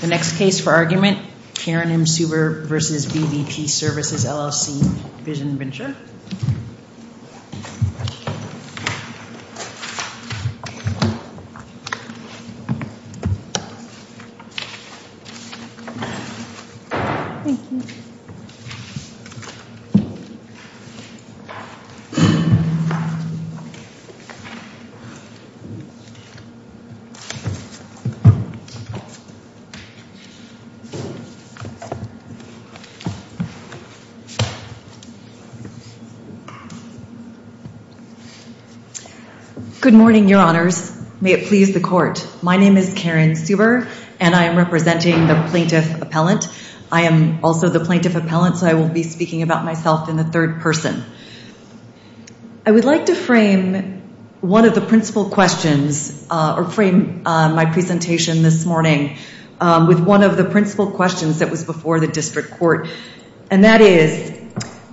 The next case for argument, Karen M. Suber v. VVP Services, LLC, Vision Venture Good morning, your honors. May it please the court. My name is Karen Suber, and I am representing the plaintiff appellant. I am also the plaintiff appellant, so I will be speaking about myself in the third person. I would like to frame one of the principal questions, or frame my with one of the principal questions that was before the district court, and that is,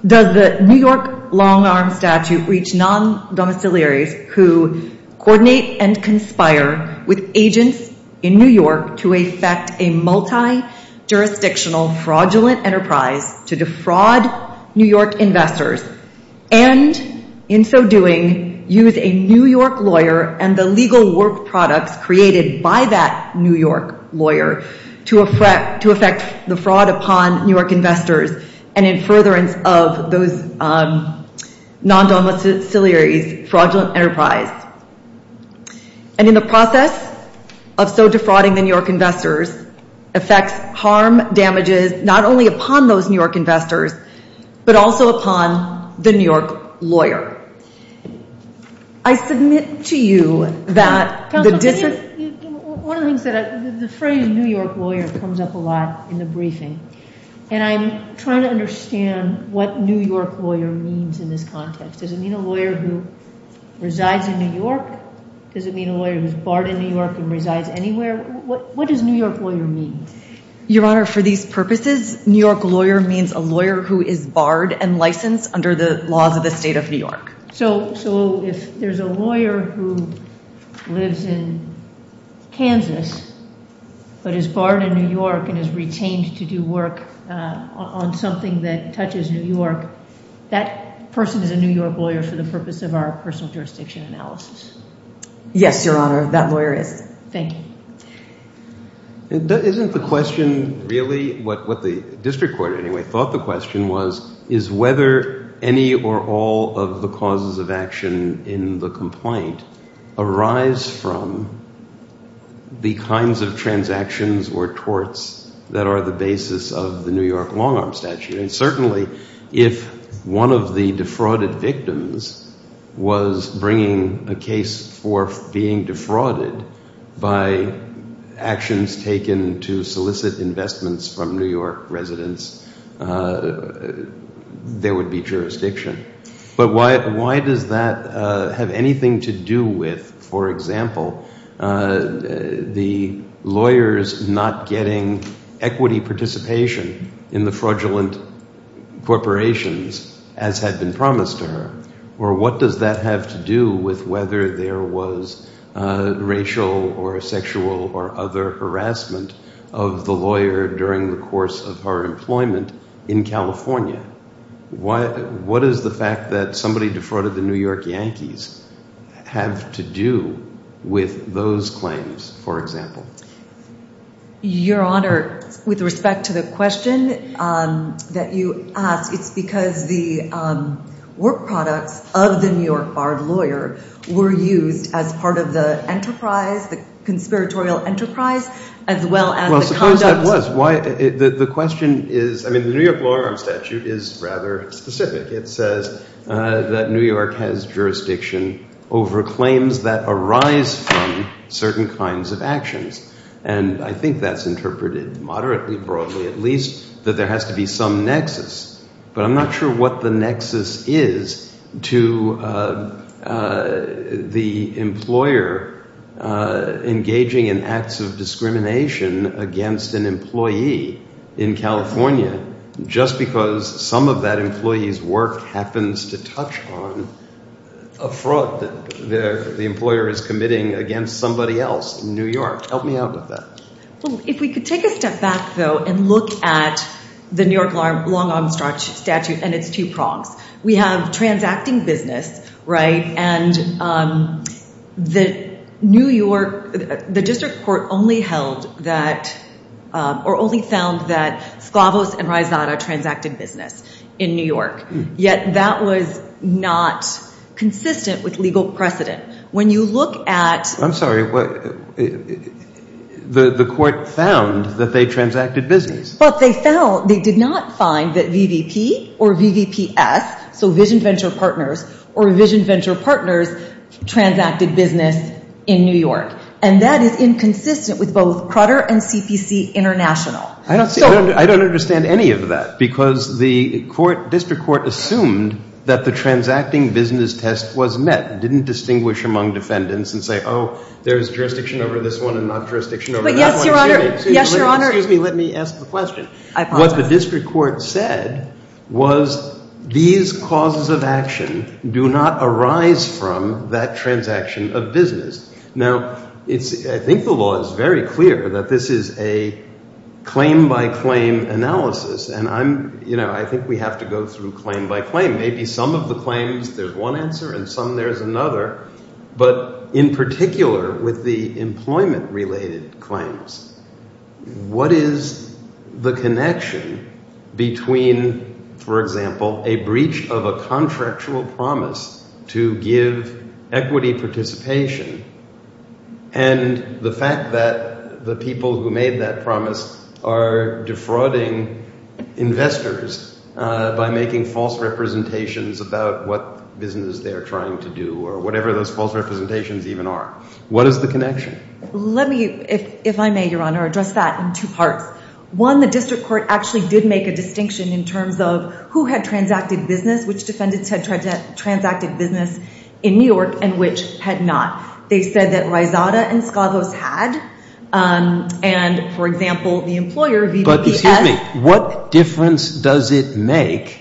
does the New York long-arm statute reach non-domiciliaries who coordinate and conspire with agents in New York to effect a multi-jurisdictional fraudulent enterprise to defraud New York investors and, in so doing, use a New York lawyer and the legal work products created by that New York lawyer to effect the fraud upon New York investors and in furtherance of those non-domiciliaries fraudulent enterprise, and in the process of so defrauding the New York investors, effects harm damages not only upon those New York investors, but also upon the New York lawyer. I submit to you that the district... Counselor, one of the things, the phrase New York lawyer comes up a lot in the briefing, and I'm trying to understand what New York lawyer means in this context. Does it mean a lawyer who resides in New York? Does it mean a lawyer who's barred in New York and resides anywhere? What does New York lawyer mean? Your honor, for these purposes, New York lawyer means a lawyer who is barred and licensed under the laws of the state of New York. So if there's a lawyer who lives in Kansas, but is barred in New York and is retained to do work on something that touches New York, that person is a New York lawyer for the purpose of our personal jurisdiction analysis. Yes, your honor, that lawyer is. Thank you. Isn't the question really, what the district court anyway thought the question was, is whether any or all of the causes of action in the complaint arise from the kinds of transactions or torts that are the basis of the New York long arm statute. And certainly, if one of the defrauded victims was bringing a case for being defrauded by actions taken to solicit investments from New York residents, there would be jurisdiction. But why does that have anything to do with, for example, the lawyers not getting equity participation in the fraudulent corporations as had been promised to her? Or what does that have to do with whether there was racial or sexual or other harassment of the lawyers during the course of her employment in California? What is the fact that somebody defrauded the New York Yankees have to do with those claims, for example? Your honor, with respect to the question that you asked, it's because the work products of the New York barred lawyer were used as part of the enterprise, the conspiratorial enterprise, as well as the conducts. The question is, the New York long arm statute is rather specific. It says that New York has jurisdiction over claims that arise from certain kinds of actions. And I think that's interpreted moderately broadly, at least that there has to be some nexus. But I'm not sure what the nexus is to the employer engaging in acts of corruption. Acts of discrimination against an employee in California, just because some of that employee's work happens to touch on a fraud that the employer is committing against somebody else in New York. Help me out with that. If we could take a step back, though, and look at the New York long arm statute and its two prongs. We have transacting business, right? And the New York, the district court only held that, or only found that Sklavos and Reisata transacted business in New York. Yet that was not consistent with legal precedent. When you look at... I'm sorry, the court found that they transacted business. But they found, they did not find that VVP or VVPS, so vision venture partners, or vision with both Crutter and CPC International. I don't see, I don't understand any of that. Because the court, district court assumed that the transacting business test was met. Didn't distinguish among defendants and say, oh, there's jurisdiction over this one and not jurisdiction over that one. But yes, your honor, yes, your honor. Excuse me, excuse me, let me ask the question. I apologize. What the district court said was these causes of action do not arise from that transaction of business. Now, it's, I think the law is very clear that this is a claim by claim analysis. And I'm, you know, I think we have to go through claim by claim. Maybe some of the claims there's one answer and some there's another. But in particular with the employment related claims, what is the connection between, for example, a breach of a contractual promise to give equity participation and the fact that the people who made that promise are defrauding investors by making false representations about what business they're trying to do or whatever those false representations even are. What is the connection? Let me, if I may, your honor, address that in two parts. One, the district court actually did make a distinction in terms of who had transacted business, which defendants had transacted business in New York and which had not. They said that Reisata and Skavos had. And for example, the employer, VVVS. But, excuse me, what difference does it make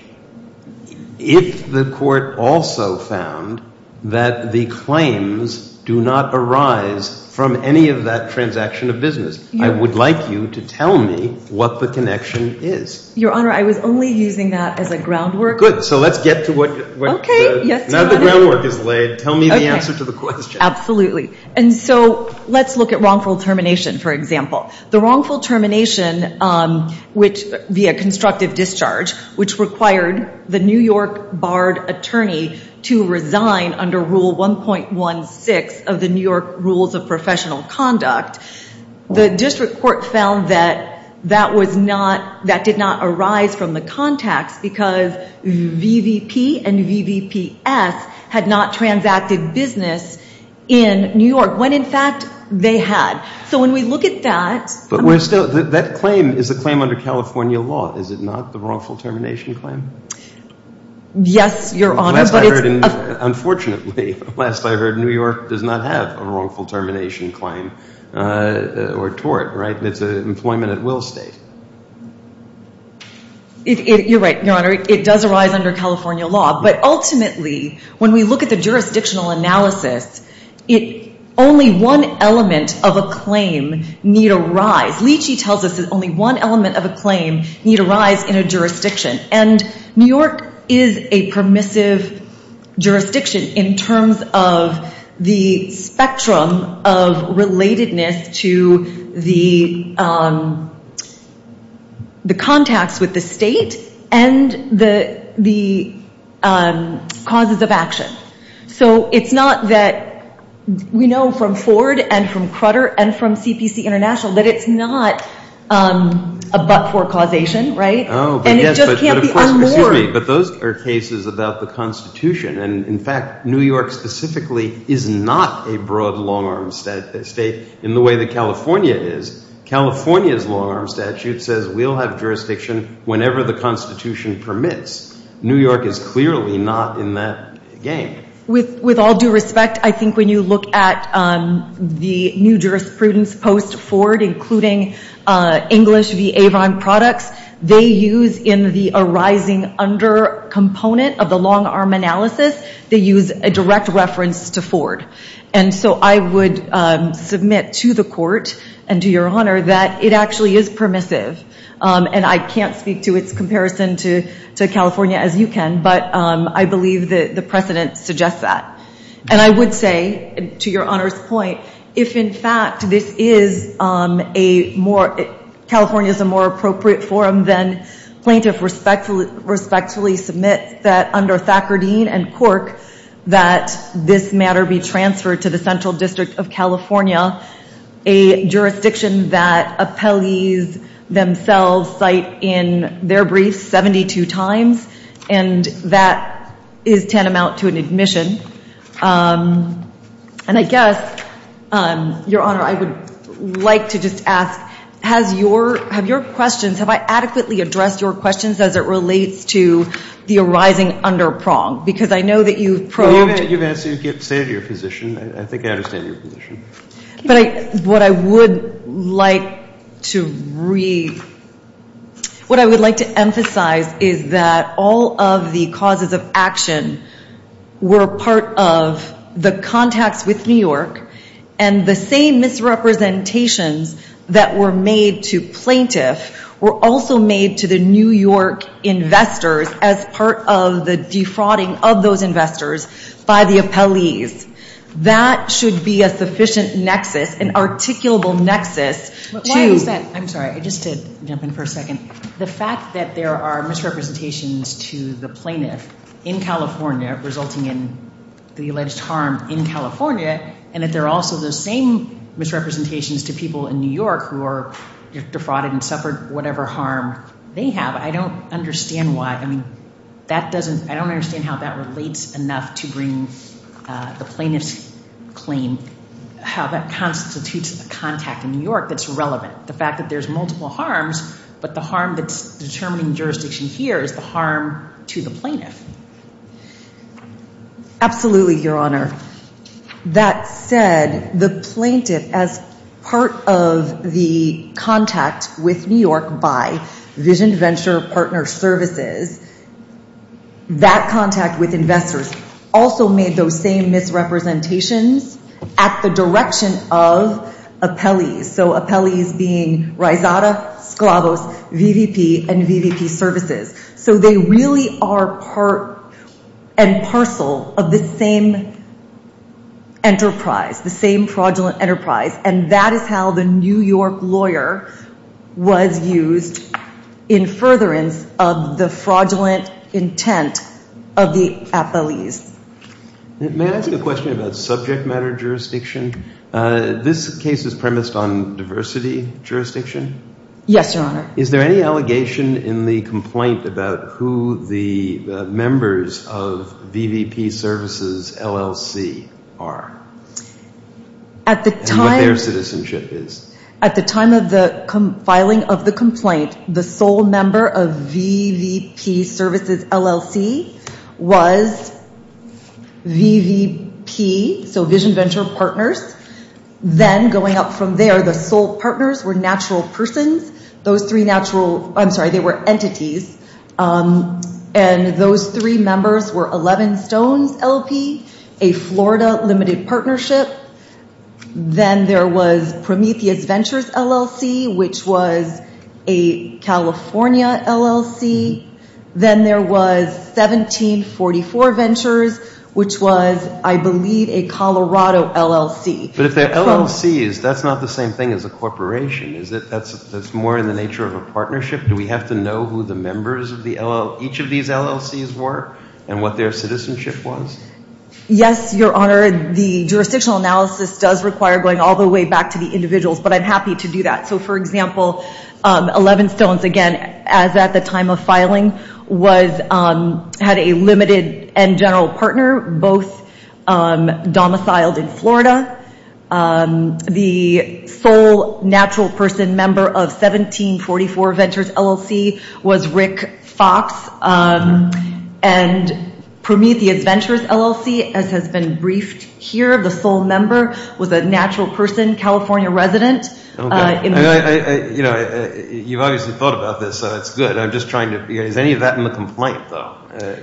if the court also found that the claims do not arise from any of that transaction of business? I would like you to tell me what the connection is. Your honor, I was only using that as a groundwork. Good. So let's get to what, now that the groundwork is laid, tell me the answer to the question. Absolutely. And so let's look at wrongful termination, for example. The wrongful termination, which via constructive discharge, which required the New York barred attorney to resign under Rule 1.16 of the New York Rules of Professional Conduct, the district court found that that VVP and VVPS had not transacted business in New York, when in fact, they had. So when we look at that. But we're still, that claim is a claim under California law, is it not, the wrongful termination claim? Yes, your honor, but it's a- Unfortunately, last I heard, New York does not have a wrongful termination claim or tort, right? It's an employment at will state. You're right, your honor. It does arise under California law. But ultimately, when we look at the jurisdictional analysis, only one element of a claim need arise. Leachy tells us that only one element of a claim need arise in a jurisdiction. And New York is a permissive jurisdiction in terms of the spectrum of relatedness to the jurisdiction. The contacts with the state and the causes of action. So it's not that, we know from Ford and from Crutter and from CPC International that it's not a but-for causation, right? But those are cases about the Constitution. And in fact, New York specifically is not a broad long-arm state in the way that California is. California's long-arm statute says we'll have jurisdiction whenever the Constitution permits. New York is clearly not in that game. With all due respect, I think when you look at the new jurisprudence post-Ford, including English v. Avon products, they use in the arising under component of the long-arm analysis, they use a direct reference to Ford. And so I would submit to the Court and to Your Honor that it actually is permissive. And I can't speak to its comparison to California as you can, but I believe that the precedent suggests that. And I would say, to Your Honor's point, if in fact this is a more, California's a more appropriate forum, then plaintiff respectfully submits that under Thacker Dean and Cork that this matter be transferred to the Central District of California, a jurisdiction that appellees themselves cite in their briefs 72 times. And that is tantamount to an admission. And I guess, Your Honor, I would like to just ask, have your questions, have I adequately addressed your questions as it relates to the arising under prong? Because I know that you've probed... Well, you've answered, you've stated your position. I think I understand your position. What I would like to read, what I would like to emphasize is that all of the causes of action were part of the contacts with New York and the same misrepresentations that were made to plaintiff were also made to the New York investors as part of the defrauding of those investors by the appellees. That should be a sufficient nexus, an articulable nexus to... Why is that? I'm sorry, just to jump in for a second. The fact that there are misrepresentations to the plaintiff in California, resulting in the alleged harm in California, and that there are also the same misrepresentations to people in New York who are defrauded and suffered whatever harm they have, I don't understand why. I mean, I don't understand how that relates enough to bring the plaintiff's claim, how that constitutes a contact in New York that's relevant. The fact that there's multiple harms, but the harm that's determining jurisdiction here is the harm to the plaintiff. Absolutely, Your Honor. That said, the plaintiff, as part of the contact with New York by Vision Venture Partner Services, that contact with investors also made those same misrepresentations at the direction of appellees, so appellees being Risada, Sclavos, VVP, and VVP Services. So they really are part and parcel of the same enterprise, the same fraudulent enterprise, and that is how the New York lawyer was used in furtherance of the fraudulent intent of the appellees. May I ask a question about subject matter jurisdiction? This case is premised on diversity jurisdiction? Yes, Your Honor. Is there any allegation in the complaint about who the members of VVP Services LLC are? At the time of the filing of the complaint, the sole member of VVP Services LLC was VVP, so Vision Venture Partners. Then going up from there, the sole partners were natural persons. Those three natural, I'm sorry, they were entities, and those three members were 11 Stones LLP, a Florida limited partnership. Then there was Prometheus Ventures LLC, which was a California LLC. Then there was 1744 Ventures, which was, I believe, a Colorado LLC. But if they're LLCs, that's not the same thing as a corporation, is it? That's more in the nature of a partnership? Do we have to know who the members of each of these LLCs were and what their citizenship was? Yes, Your Honor. The jurisdictional analysis does require going all the way back to the individuals, but I'm happy to do that. So for example, 11 Stones, again, as at the time of filing, had a limited and general partner, both domiciled in Florida, and then they were limited. The sole natural person member of 1744 Ventures LLC was Rick Fox, and Prometheus Ventures LLC, as has been briefed here, the sole member was a natural person, California resident. Okay. You've obviously thought about this, so it's good. I'm just trying to... Is any of that in the complaint, though,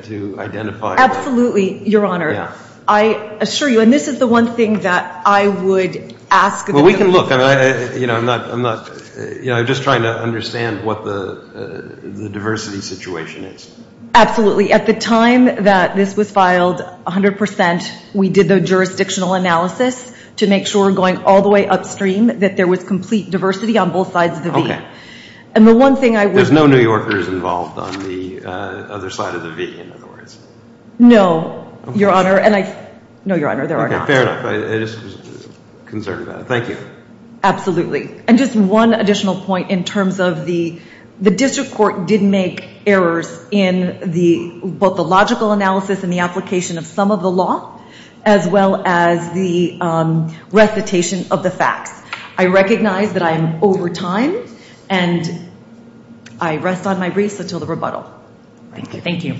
to identify? Absolutely, Your Honor. I assure you, and this is the one thing that I would ask... Well, we can look. I'm just trying to understand what the diversity situation is. Absolutely. At the time that this was filed, 100%, we did the jurisdictional analysis to make sure, going all the way upstream, that there was complete diversity on both sides of the V. There's no New Yorkers involved on the other side of the V, in other words? No, Your Honor, and I... No, Your Honor, there are not. Okay, fair enough. I just was concerned about it. Thank you. Absolutely. Just one additional point in terms of the... The district court did make errors in both the logical analysis and the application of some of the law, as well as the recitation of the facts. I recognize that I am over time, and I rest on my wreaths until the rebuttal. Thank you.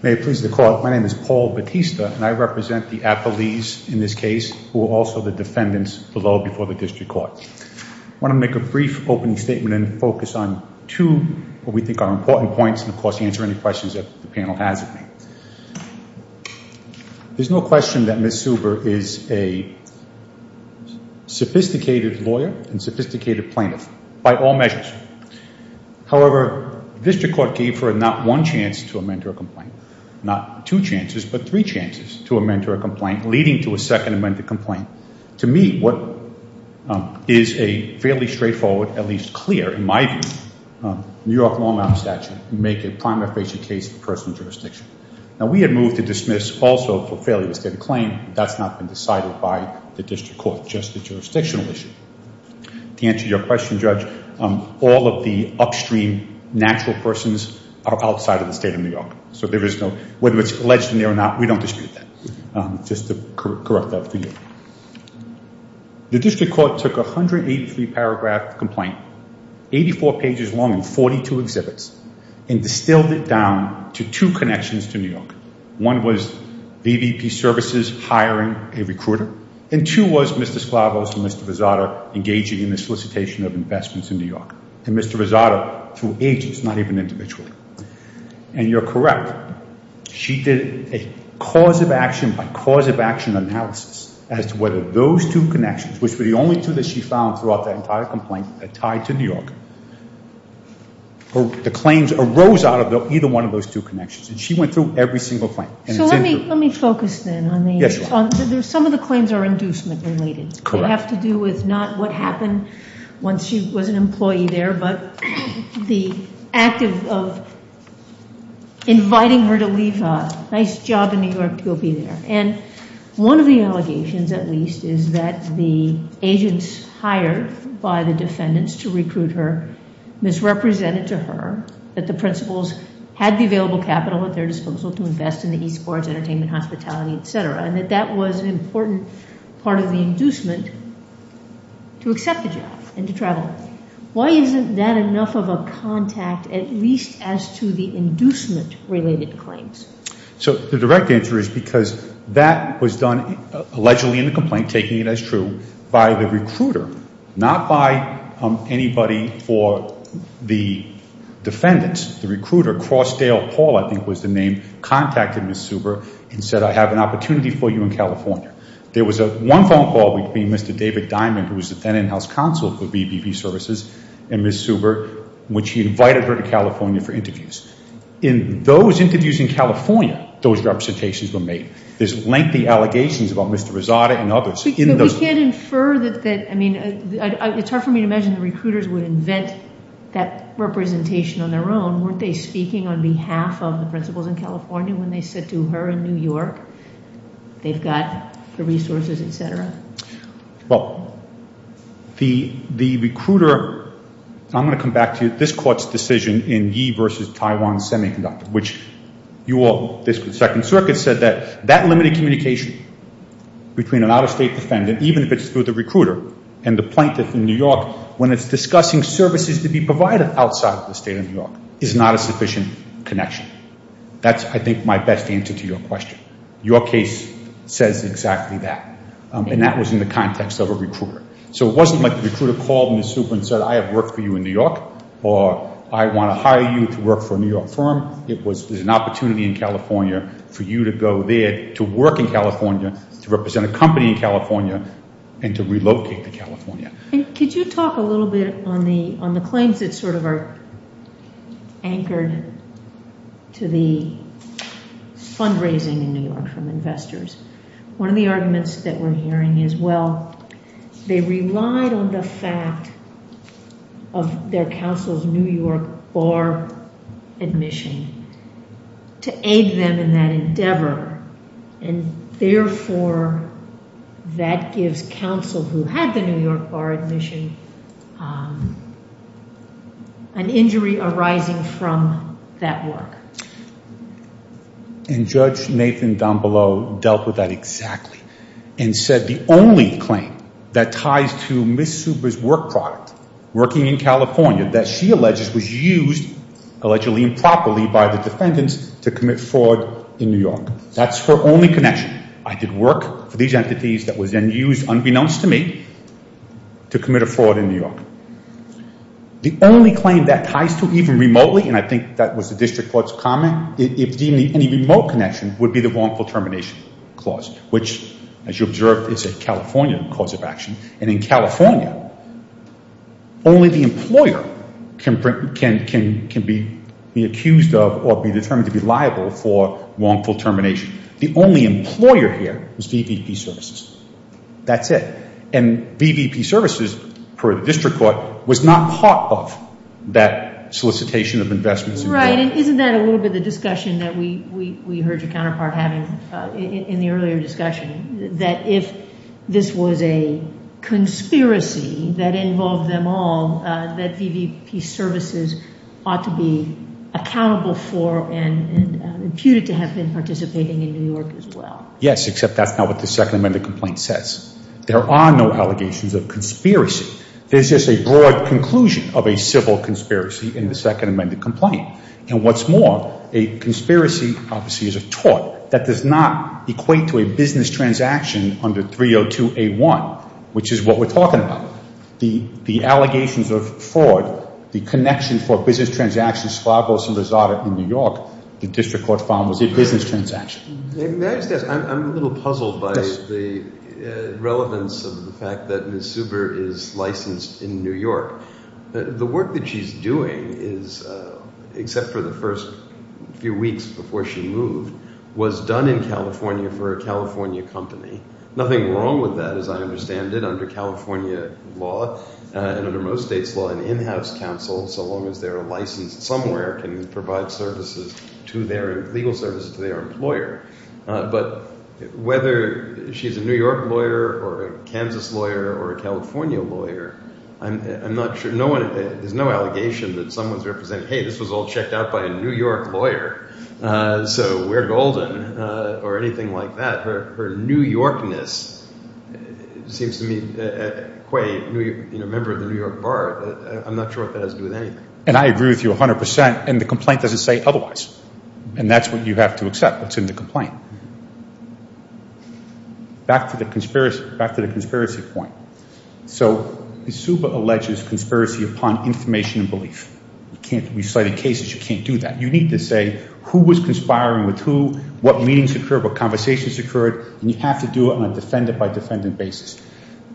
May it please the court, my name is Paul Batista, and I represent the appellees in this case who are also the defendants below before the district court. I want to make a brief opening statement and focus on two of what we think are important points, and of course, answer any questions that the panel has of me. There's no question that Ms. Suber is a sophisticated lawyer and sophisticated plaintiff, by all measures. However, district court gave her not one chance to amend her complaint, not two chances, but three chances to amend her complaint, leading to a second amended complaint. To me, what is a fairly straightforward, at least clear, in my view, New York long-arm statute would make a prima facie case of personal jurisdiction. Now, we had moved to dismiss also for failure to state a claim. That's not been decided by the district court, just the jurisdictional issue. To answer your question, Judge, all of the upstream natural persons are outside of the state of New York. Whether it's alleged in there or not, we don't dispute that. Just to correct that for you. The district court took 183 paragraph complaint, 84 pages long and 42 exhibits, and distilled it down to two connections to New York. One was VVP services hiring a recruiter, and two was Mr. Sklavos and Mr. Vizzotto engaging in the solicitation of investments in New York. And Mr. Vizzotto, through agents, not even individually. And you're correct. She did a cause of action by cause of action analysis as to whether those two connections, which were the only two that she found throughout that entire complaint that tied to New York, the claims arose out of either one of those two connections. And she went through every single claim. So let me focus then on the... Some of the claims are inducement related. They have to do with not what happened once she was an employee there, but the act of inviting her to leave. Nice job in New York to go be there. And one of the allegations, at least, is that the agents hired by the defendants to recruit her misrepresented to her that the principals had the available capital at their disposal to invest in the e-sports, entertainment, hospitality, et cetera. And that that was an important part of the inducement to accept the job and to travel. Why isn't that enough of a contact, at least as to the inducement related claims? So the direct answer is because that was done allegedly in the complaint, taking it as true, by the recruiter, not by anybody for the defendants. The recruiter, Crossdale Paul, I think was the name, contacted Ms. Suber and said, I have an opportunity for you in California. There was one phone call between Mr. David Diamond, who was the then in-house counsel for VPP Services, and Ms. Suber, in which he invited her to California for interviews. In those interviews in California, those representations were made. There's lengthy allegations about Mr. Rosada and others. But you can't infer that... I mean, it's hard for me to imagine the recruiters would invent that representation on their own. Weren't they speaking on behalf of the principals in California when they said to her in New York, they've got the resources, et cetera? Well, the recruiter... I'm going to come back to this court's decision in Yee v. Taiwan Semiconductor, which you all... The Second Circuit said that that limited communication between an out-of-state defendant, even if it's through the recruiter and the plaintiff in New York, when it's discussing services to be provided outside of the state of New York, is not a sufficient connection. That's, I think, my best answer to your question. Your case says exactly that. And that was in the context of a recruiter. So it wasn't like the recruiter called Ms. Suber and said, I have work for you in New York, or I want to hire you to work for a New York firm. There's an opportunity in California for you to go there to work in California, to represent a company in California, and to relocate to California. And could you talk a little bit on the claims that sort of are anchored to the fundraising in New York from investors? One of the arguments that we're hearing is, well, they relied on the fact of their counsel's New York bar admission to aid them in that endeavor. And therefore, that gives counsel who had the New York bar admission an injury arising from that work. And Judge Nathan D'Ambelo dealt with that exactly, and said the only claim that ties to Ms. Suber's work product, working in California, that she alleges was used, allegedly improperly, by the defendants to commit fraud in New York. That's her only connection. I did work for these entities that was then used, unbeknownst to me, to commit a fraud in New York. The only claim that ties to, even remotely, and I think that was the district court's comment, if deemed any remote connection, would be the wrongful termination clause, which, as you observed, is a California cause of action. And in California, only the employer can be accused of or be determined to be liable for wrongful termination. The only employer here was VVP Services. That's it. And VVP Services, per the district court, was not part of that solicitation of investments. Right. And isn't that a little bit the discussion that we heard your counterpart having in the earlier discussion, that if this was a conspiracy that involved them all, that VVP Services ought to be accountable for and imputed to have been participating in New York as well? Yes, except that's not what the Second Amendment complaint says. There are no allegations of conspiracy. There's just a broad conclusion of a civil conspiracy in the Second Amendment complaint. And what's more, a conspiracy, obviously, is a tort that does not equate to a business transaction under 302A1, which is what we're talking about. The allegations of fraud, the connection for a business transaction, in New York, the district court found was a business transaction. May I just ask, I'm a little puzzled by the relevance of the fact that Ms. Zuber is licensed in New York. The work that she's doing is, except for the first few weeks before she moved, was done in California for a California company. Nothing wrong with that, as I understand it, under California law and under most states law, an in-house counsel, so long as they're licensed somewhere, can provide services to their legal services to their employer. But whether she's a New York lawyer or a Kansas lawyer or a California lawyer, I'm not sure. There's no allegation that someone's representing, hey, this was all checked out by a New York lawyer, so we're golden, or anything like that. Her New York lawyer, I'm not sure what that has to do with anything. And I agree with you 100 percent, and the complaint doesn't say otherwise. And that's what you have to accept what's in the complaint. Back to the conspiracy point. So Ms. Zuber alleges conspiracy upon information and belief. You can't be citing cases, you can't do that. You need to say who was conspiring with who, what meetings occurred, what conversations occurred, and you have to do it on a defendant-by-defendant basis.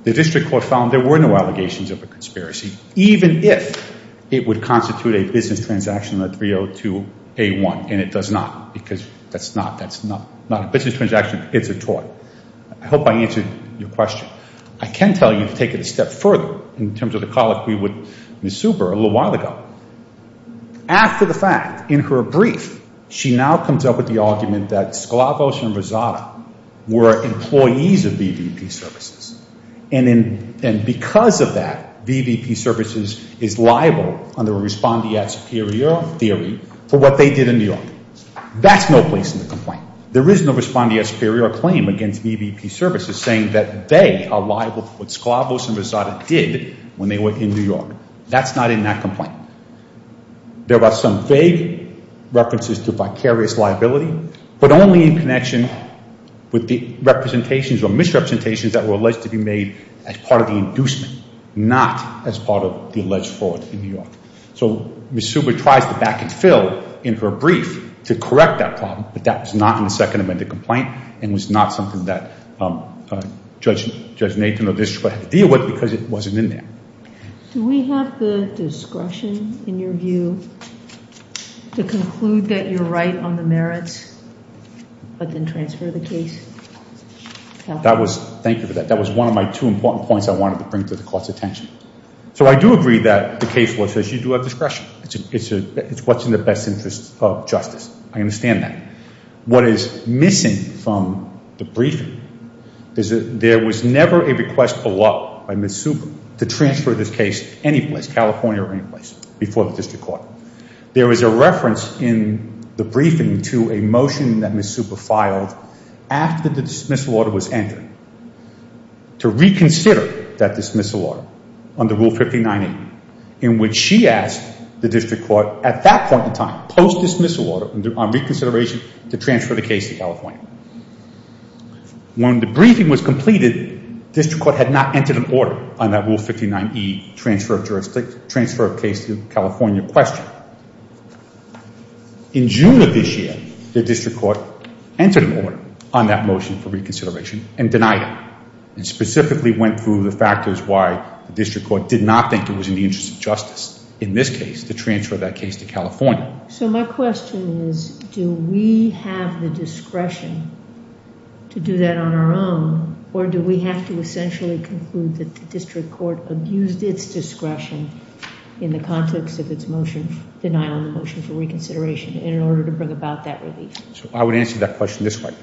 The district court found there were no allegations of a conspiracy, even if it would constitute a business transaction on a 302A1, and it does not, because that's not a business transaction, it's a toy. I hope I answered your question. I can tell you to take it a step further in terms of the colloquy with Ms. Zuber a little while ago. After the fact, in her brief, she now comes up with the argument that Sklavos and Rosada were employees of VVP Services, and because of that, VVP Services is liable under respondeat superior theory for what they did in New York. That's no place in the complaint. There is no respondeat superior claim against VVP Services saying that they are liable for what Sklavos and Rosada did when they were in New York. That's not in that but only in connection with the representations or misrepresentations that were alleged to be made as part of the inducement, not as part of the alleged fraud in New York. So Ms. Zuber tries to back and fill in her brief to correct that problem, but that was not in the second amended complaint and was not something that Judge Nathan or the district court had to deal with because it wasn't in there. Do we have the discretion in your view to conclude that you're right on the merits but then transfer the case? Thank you for that. That was one of my two important points I wanted to bring to the court's attention. So I do agree that the case law says you do have discretion. It's what's in the best interest of justice. I understand that. What is missing from the briefing is that there was never a request allowed by Ms. Zuber to transfer this case any place, California or any place, before the district court. There is a reference in the briefing to a motion that Ms. Zuber filed after the dismissal order was entered to reconsider that dismissal order under Rule 59A in which she asked the district court at that point in time, post dismissal order on reconsideration to transfer the case to California. When the briefing was completed, the district court had not entered an order on that Rule 59E transfer of case to California question. In June of this year, the district court entered an order on that motion for reconsideration and denied it and specifically went through the factors why the district court did not think it was in the interest of justice in this case to transfer that case to California. So my question is do we have the discretion to do that on our own or do we have to essentially conclude that the district court abused its discretion in the context of its motion, denial of motion for reconsideration, in order to bring about that relief? So I would answer that question this way.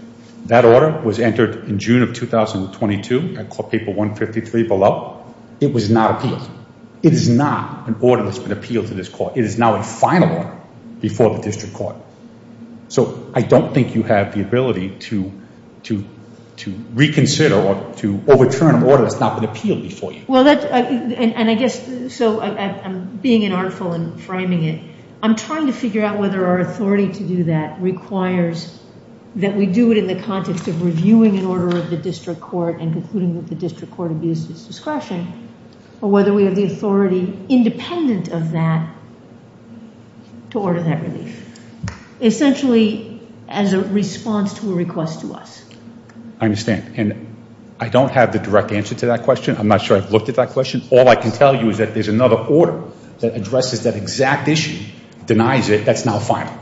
That order was entered in June of 2022 at court paper 153 below. It was not appealed. It is not an order that's been appealed to this court. It is now a final order before the district court. So I don't think you have the ability to reconsider or to overturn an order that's not been appealed before you. Well that's and I guess so I'm being an artful and framing it. I'm trying to figure out whether our authority to do that requires that we do it in the context of reviewing an order of the district court and concluding that the district court abused its discretion, independent of that, to order that relief. Essentially as a response to a request to us. I understand and I don't have the direct answer to that question. I'm not sure I've looked at that question. All I can tell you is that there's another order that addresses that exact issue, denies it, that's now final.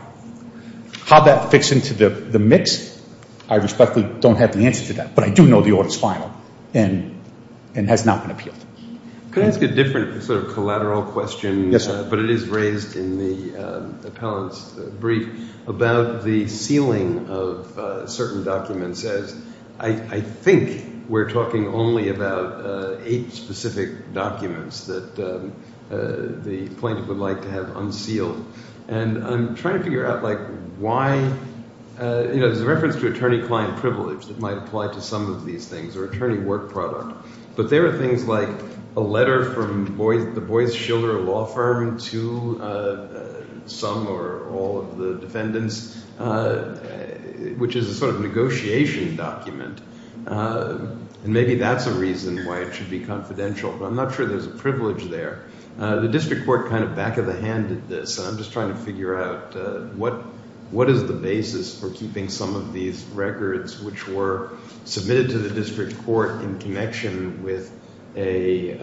How that fits into the mix, I respectfully don't have the answer to that. But I do know the order is final and has not been appealed. Can I ask a different sort of lateral question? Yes. But it is raised in the appellant's brief about the sealing of certain documents as I think we're talking only about eight specific documents that the plaintiff would like to have unsealed. And I'm trying to figure out like why you know there's a reference to attorney client privilege that might apply to some of these things or attorney work product. But there are a letter from the Boies Shiller law firm to some or all of the defendants which is a sort of negotiation document. And maybe that's a reason why it should be confidential. But I'm not sure there's a privilege there. The district court kind of back of the hand did this. I'm just trying to figure out what is the basis for keeping some of these records which were submitted to the district court in connection with a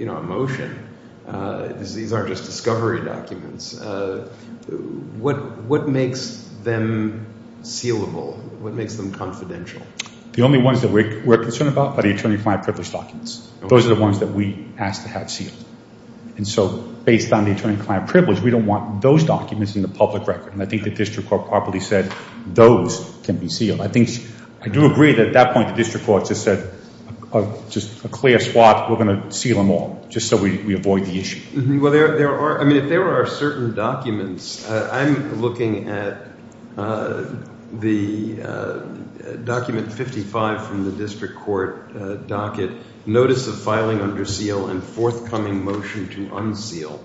motion. These aren't just discovery documents. What makes them sealable? What makes them confidential? The only ones that we're concerned about are the attorney client privilege documents. Those are the ones that we ask to have sealed. And so based on the attorney client privilege, we don't want those documents in the public record. And I think the district court properly said those can be sealed. I think I do agree that at that point the district court just said just a clear spot. We're going to seal them all just so we avoid the issue. Well there are I mean if there are certain documents I'm looking at the document 55 from the district court docket notice of filing under seal and forthcoming motion to unseal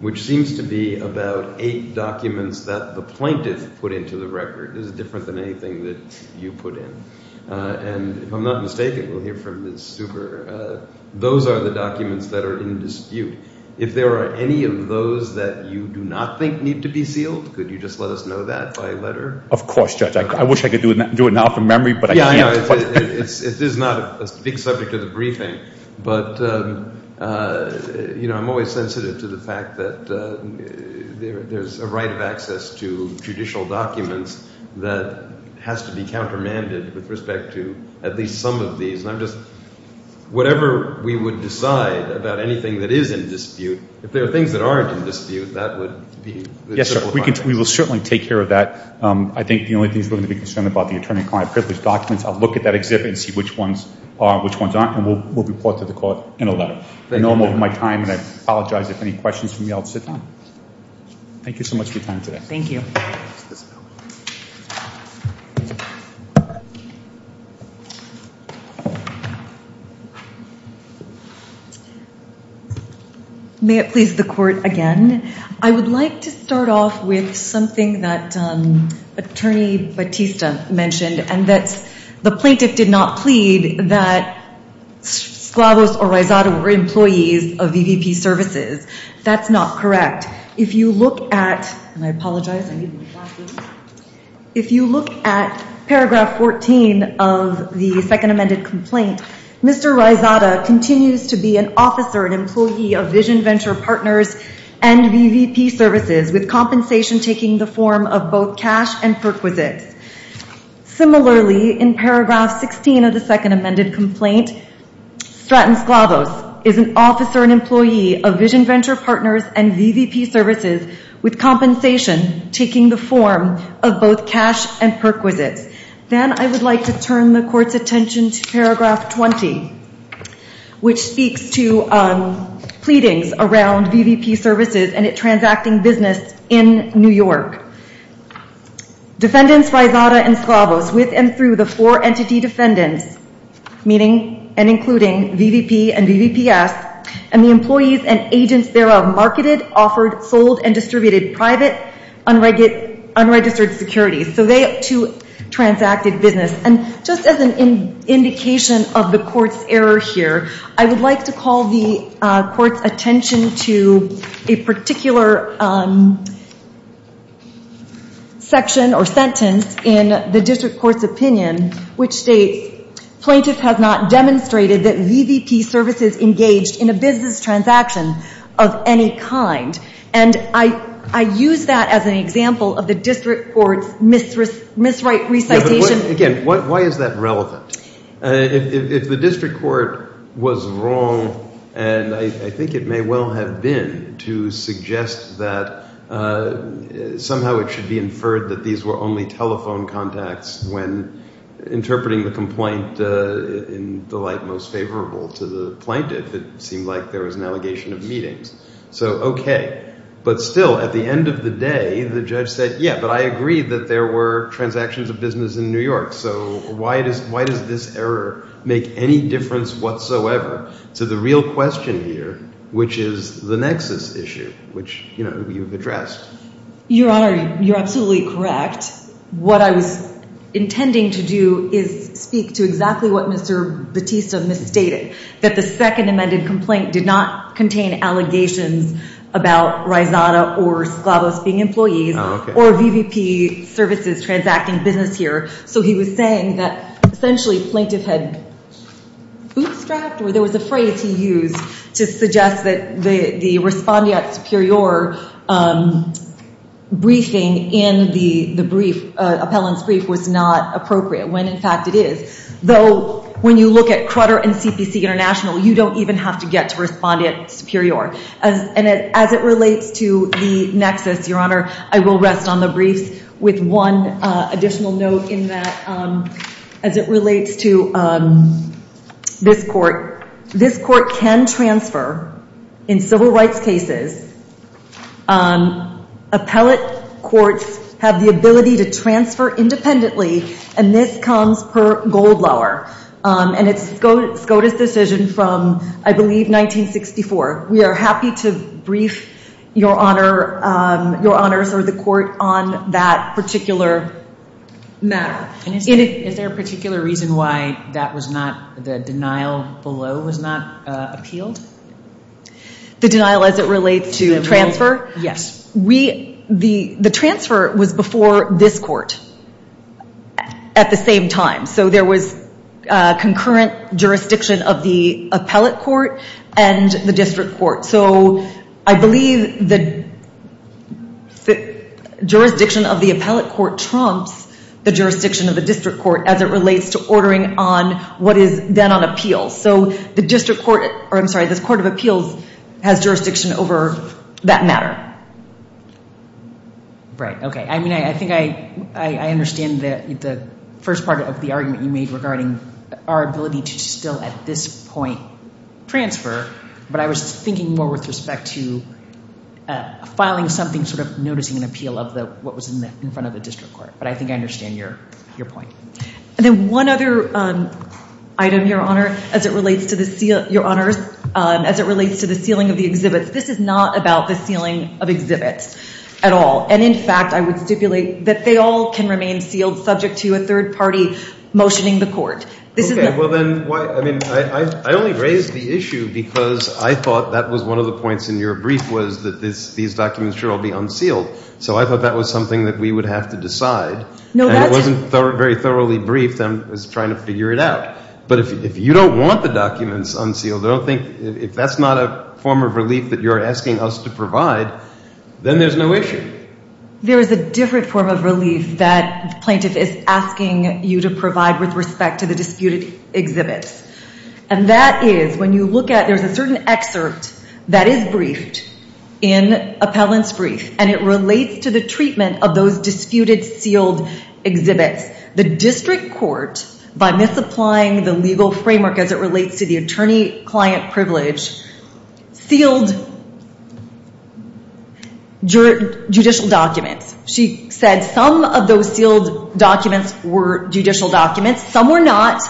which seems to be about eight documents that the plaintiff put into the record. This is different than anything that you put in. And if I'm not mistaken we'll hear from Ms. Stuber. Those are the documents that are in dispute. If there are any of those that you do not think need to be sealed could you just let us know that by letter? Of course Judge. I wish I could do it now from memory but I can't. It is not a big subject of the briefing but you know I'm always sensitive to the fact that there's a right of access to judicial documents that has to be countermanded with respect to at least some of these. And I'm just whatever we would decide about anything that is in dispute if there are things that aren't in dispute that would be. Yes sir we can we will certainly take care of that. I think the only things we're going to be concerned about the attorney client privilege documents. I'll look at that exhibit and see which ones are which ones and we'll report to the court in a letter. I know I'm over my time and I apologize if any questions for me I'll sit down. Thank you so much for your time today. Thank you. May it please the court again. I would like to start off with something that attorney Batista mentioned and that's the plaintiff did not plead that Sklavos or Rizada were employees of VVP services. That's not correct. If you look at and I apologize if you look at paragraph 14 of the second amended complaint Mr. Rizada continues to be an officer an employee of Vision Venture Partners and VVP services with compensation taking the form of cash and perquisites. Similarly in paragraph 16 of the second amended complaint Stratton Sklavos is an officer and employee of Vision Venture Partners and VVP services with compensation taking the form of both cash and perquisites. Then I would like to turn the court's attention to paragraph 20 which speaks to pleadings around VVP services and it transacting business in New York. Defendants Rizada and Sklavos with and through the four entity defendants meaning and including VVP and VVPS and the employees and agents thereof marketed, offered, sold, and distributed private unregistered securities so they too transacted business. And just as an indication of the court's error here I would like to call the court's attention to a particular section or sentence in the district court's opinion which states plaintiff has not demonstrated that VVP services engaged in a business transaction of any kind and I use that as an example of the district court's misrecitation. Again why is that relevant? If the district court was wrong and I think it may well have been to suggest that somehow it should be inferred that these were only telephone contacts when interpreting the complaint in the light most favorable to the plaintiff it seemed like there was an allegation of meetings so okay but still at the end of the day the judge said yeah but I agree that there were transactions of business in New York so why does this error make any difference whatsoever to the real question here which is the nexus issue which you know you've addressed. Your honor you're absolutely correct what I was intending to do is speak to exactly what Mr. Batista misstated that the second amended complaint did not contain allegations about or Slavos being employees or VVP services transacting business here so he was saying that essentially plaintiff had bootstrapped or there was a phrase he used to suggest that the respondeat superior briefing in the brief appellant's brief was not appropriate when in fact it is though when you look at Crutter and CPC International you don't even have to get to the nexus your honor I will rest on the briefs with one additional note in that as it relates to this court this court can transfer in civil rights cases appellate courts have the ability to transfer independently and this comes per gold lower and it's SCOTUS decision from I believe 1964 we are happy to brief your honor your honors or the court on that particular matter is there a particular reason why that was not the denial below was not appealed the denial as it relates to transfer yes we the the transfer was before this court at the same time so there was concurrent jurisdiction of the appellate court and the district court so I believe the jurisdiction of the appellate court trumps the jurisdiction of the district court as it relates to ordering on what is then on appeal so the district court or I'm sorry this court of appeals has jurisdiction over that matter right okay I mean I think I understand that the first part of the argument you made regarding our ability to still at this point transfer but I was thinking more with respect to filing something sort of noticing an appeal of the what was in the in front of the district court but I think I understand your your point and then one other item your honor as it relates to the seal your honors as it relates to the sealing of the exhibits this is not about the sealing of exhibits at all and in fact I would that they all can remain sealed subject to a third party motioning the court this is okay well then why I mean I only raised the issue because I thought that was one of the points in your brief was that this these documents should all be unsealed so I thought that was something that we would have to decide no it wasn't very thoroughly briefed I'm trying to figure it out but if you don't want the documents unsealed I don't think if that's not a form of relief that you're asking us to provide then there's no issue there is a different form of relief that plaintiff is asking you to provide with respect to the disputed exhibits and that is when you look at there's a certain excerpt that is briefed in appellants brief and it relates to the treatment of those disputed sealed exhibits the district court by misapplying the legal framework as it were to judicial documents she said some of those sealed documents were judicial documents some were not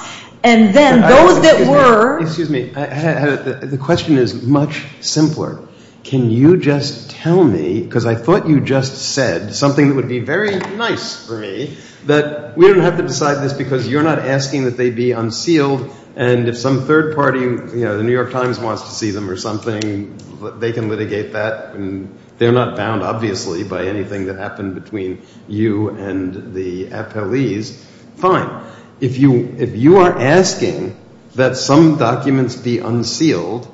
and then those that were excuse me I had the question is much simpler can you just tell me because I thought you just said something that would be very nice for me that we don't have to decide this because you're not asking that they be unsealed and if some third party you know the they can litigate that and they're not bound obviously by anything that happened between you and the appellees fine if you if you are asking that some documents be unsealed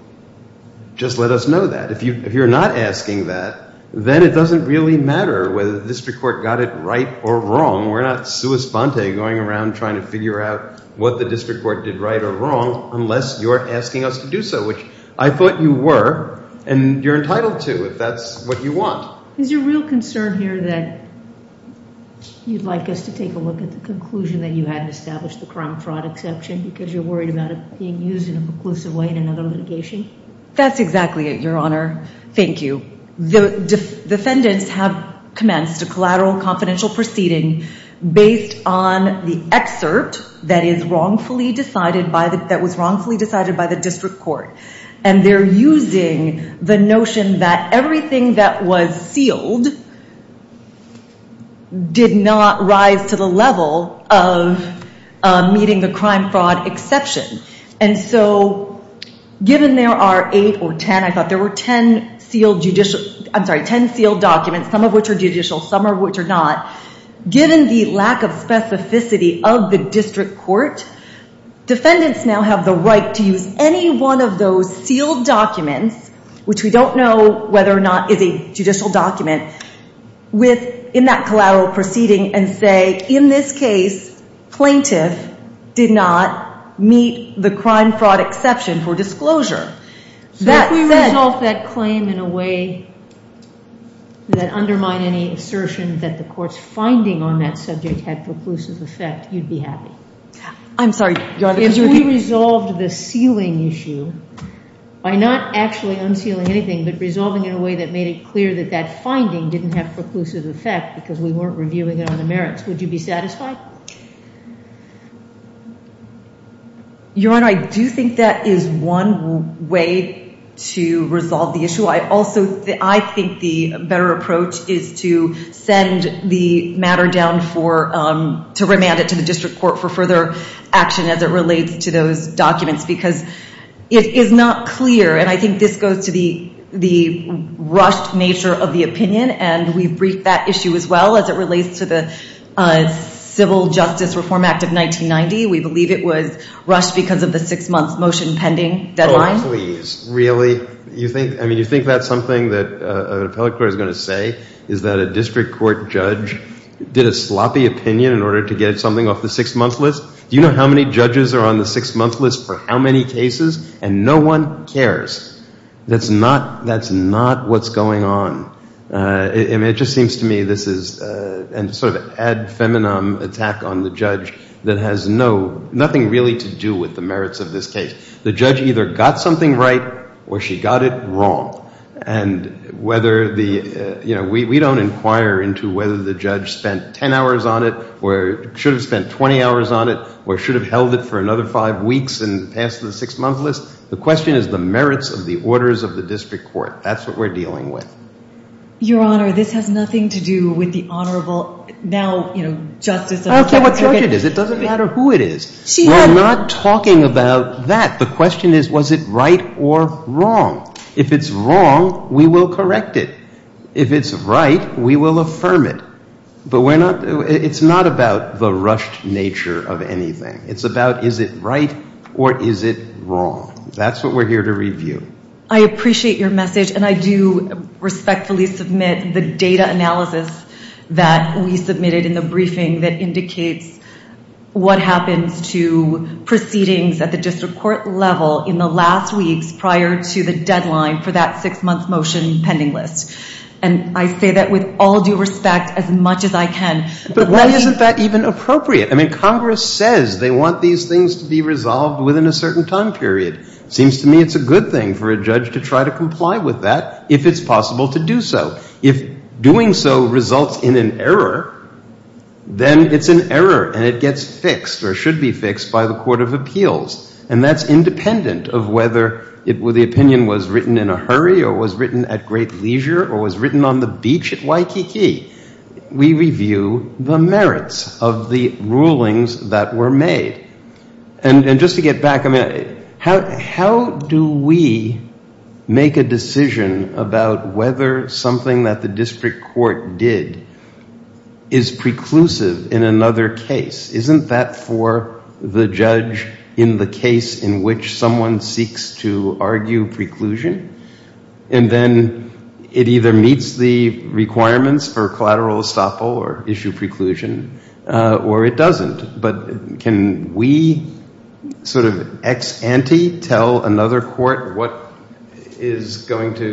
just let us know that if you if you're not asking that then it doesn't really matter whether the district court got it right or wrong we're not sua sponte going around trying to figure out what the district court did right or wrong unless you're asking us to do so which I thought you were and you're entitled to if that's what you want is your real concern here that you'd like us to take a look at the conclusion that you had to establish the crime fraud exception because you're worried about it being used in a preclusive way in another litigation that's exactly it your honor thank you the defendants have commenced a collateral confidential proceeding based on the excerpt that is wrongfully decided by the that was wrongfully the notion that everything that was sealed did not rise to the level of meeting the crime fraud exception and so given there are eight or ten I thought there were ten sealed judicial I'm sorry ten sealed documents some of which are judicial some are which are not given the lack of specificity of the district court defendants now have the right to use any one of those sealed documents which we don't know whether or not is a judicial document with in that collateral proceeding and say in this case plaintiff did not meet the crime fraud exception for disclosure that we resolve that claim in a way that undermine any assertion that the court's finding on that subject had preclusive effect you'd be happy I'm sorry if we resolved the sealing issue by not actually unsealing anything but resolving in a way that made it clear that that finding didn't have preclusive effect because we weren't reviewing it on the merits would you be satisfied your honor I do think that is one way to resolve the issue I also I think the better approach is to send the matter down for um remand it to the district court for further action as it relates to those documents because it is not clear and I think this goes to the the rushed nature of the opinion and we've briefed that issue as well as it relates to the civil justice reform act of 1990 we believe it was rushed because of the six months motion pending deadline please really you think I mean you think that's something that uh an appellate court is going to say is that a district court judge did sloppy opinion in order to get something off the six month list do you know how many judges are on the six month list for how many cases and no one cares that's not that's not what's going on uh it just seems to me this is uh and sort of ad feminem attack on the judge that has no nothing really to do with the merits of this case the judge either got something right or she got it wrong and whether the you know we we don't inquire into whether the judge spent 10 hours on it or should have spent 20 hours on it or should have held it for another five weeks and passed the six month list the question is the merits of the orders of the district court that's what we're dealing with your honor this has nothing to do with the honorable now you know justice okay what charge it is it doesn't matter who it is she's not talking about that the question is was it right or wrong if it's wrong we will correct it if it's right we will affirm it but we're not it's not about the rushed nature of anything it's about is it right or is it wrong that's what we're here to review i appreciate your message and i do respectfully submit the data analysis that we submitted in the briefing that indicates what happens to proceedings at the district court level in the last weeks prior to the deadline for that six month motion pending list and i say that with all due respect as much as i can but why isn't that even appropriate i mean congress says they want these things to be resolved within a certain time period seems to me it's a good thing for a judge to try to comply with that if it's possible to do so if doing so results in an error then it's an error and it gets fixed or should be fixed by the court of appeals and that's independent of whether it was the opinion was written in a hurry or was written at great leisure or was written on the beach at waikiki we review the merits of the rulings that were made and and just to get back i mean how how do we make a decision about whether something that the district court did is preclusive in another case isn't that for the judge in the case in which someone seeks to argue preclusion and then it either meets the requirements for collateral estoppel or issue preclusion or it doesn't but can we sort of ex ante tell another court what is going to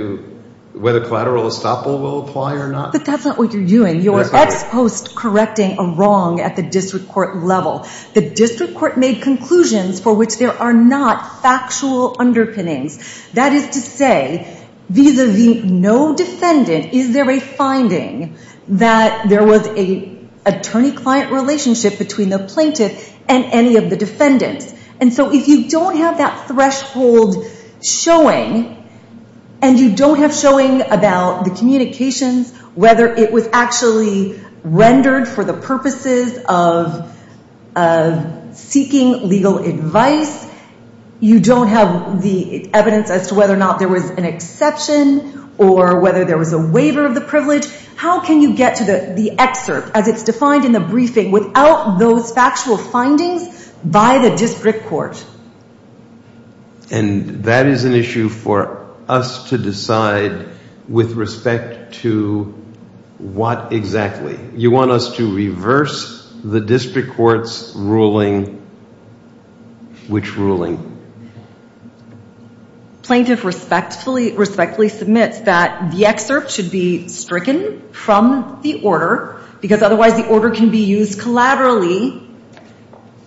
whether collateral estoppel will apply or not but that's not what you're doing you're ex post correcting a wrong at the district court level the district court made conclusions for which there are not factual underpinnings that is to say vis-a-vis no defendant is there a finding that there was a attorney client relationship between the plaintiff and any of the defendants and so if you don't have that whether it was actually rendered for the purposes of of seeking legal advice you don't have the evidence as to whether or not there was an exception or whether there was a waiver of the privilege how can you get to the the excerpt as it's defined in the briefing without those to what exactly you want us to reverse the district court's ruling which ruling plaintiff respectfully respectfully submits that the excerpt should be stricken from the order because otherwise the order can be used collaterally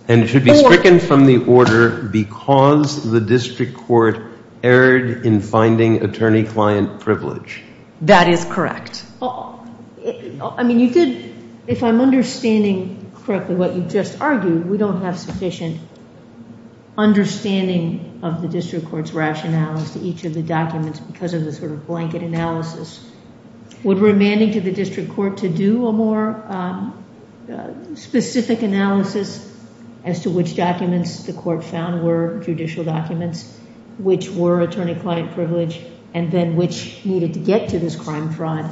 and it should be stricken from the order because the district court erred in finding attorney client privilege that is correct i mean you did if i'm understanding correctly what you just argued we don't have sufficient understanding of the district court's rationales to each of the documents because of the sort of blanket analysis would remanding to the district court to do a more specific analysis as to which documents the court found were judicial documents which were attorney client privilege and then which needed to get to this crime fraud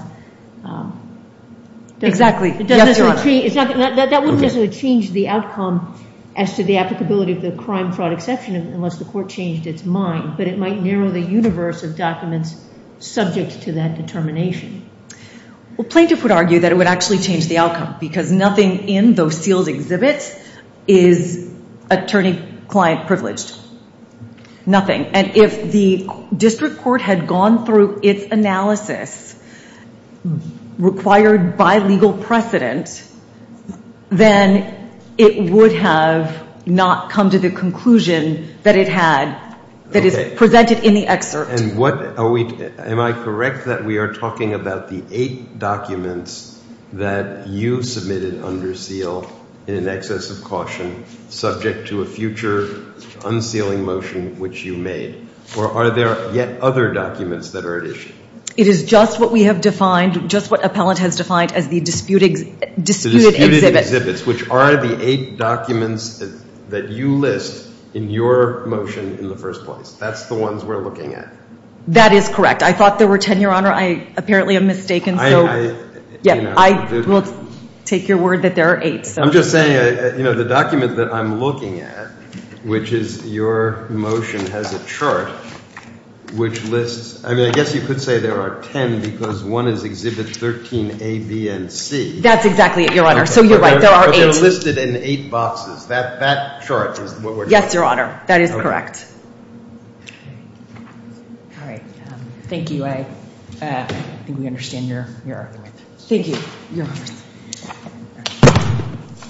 exactly that wouldn't necessarily change the outcome as to the applicability of the crime fraud exception unless the court changed its mind but it might narrow the universe of documents subject to that determination well plaintiff would argue that it would actually change the outcome because nothing in those seals exhibits is attorney client privileged nothing and if the district court had gone through its analysis required by legal precedent then it would have not come to the conclusion that it had that is presented in the excerpt and what are we am i correct that we are talking about the eight documents that you submitted under seal in an excess of caution subject to a future unsealing motion which you made or are there yet other documents that are at issue it is just what we have defined just what appellant has defined as the disputing disputed exhibits which are the eight documents that you list in your motion in the first place that's the ones we're looking at that is correct i thought there were 10 your honor i apparently am mistaken so yeah i will take your word that there are eight so i'm just saying you know the document that i'm looking at which is your motion has a chart which lists i mean i guess you could say there are 10 because one is exhibit 13 a b and c that's exactly it your honor so you're right there are listed in eight boxes that that chart is what we're yes your honor that is correct all right um thank you i uh i think we understand your your thank you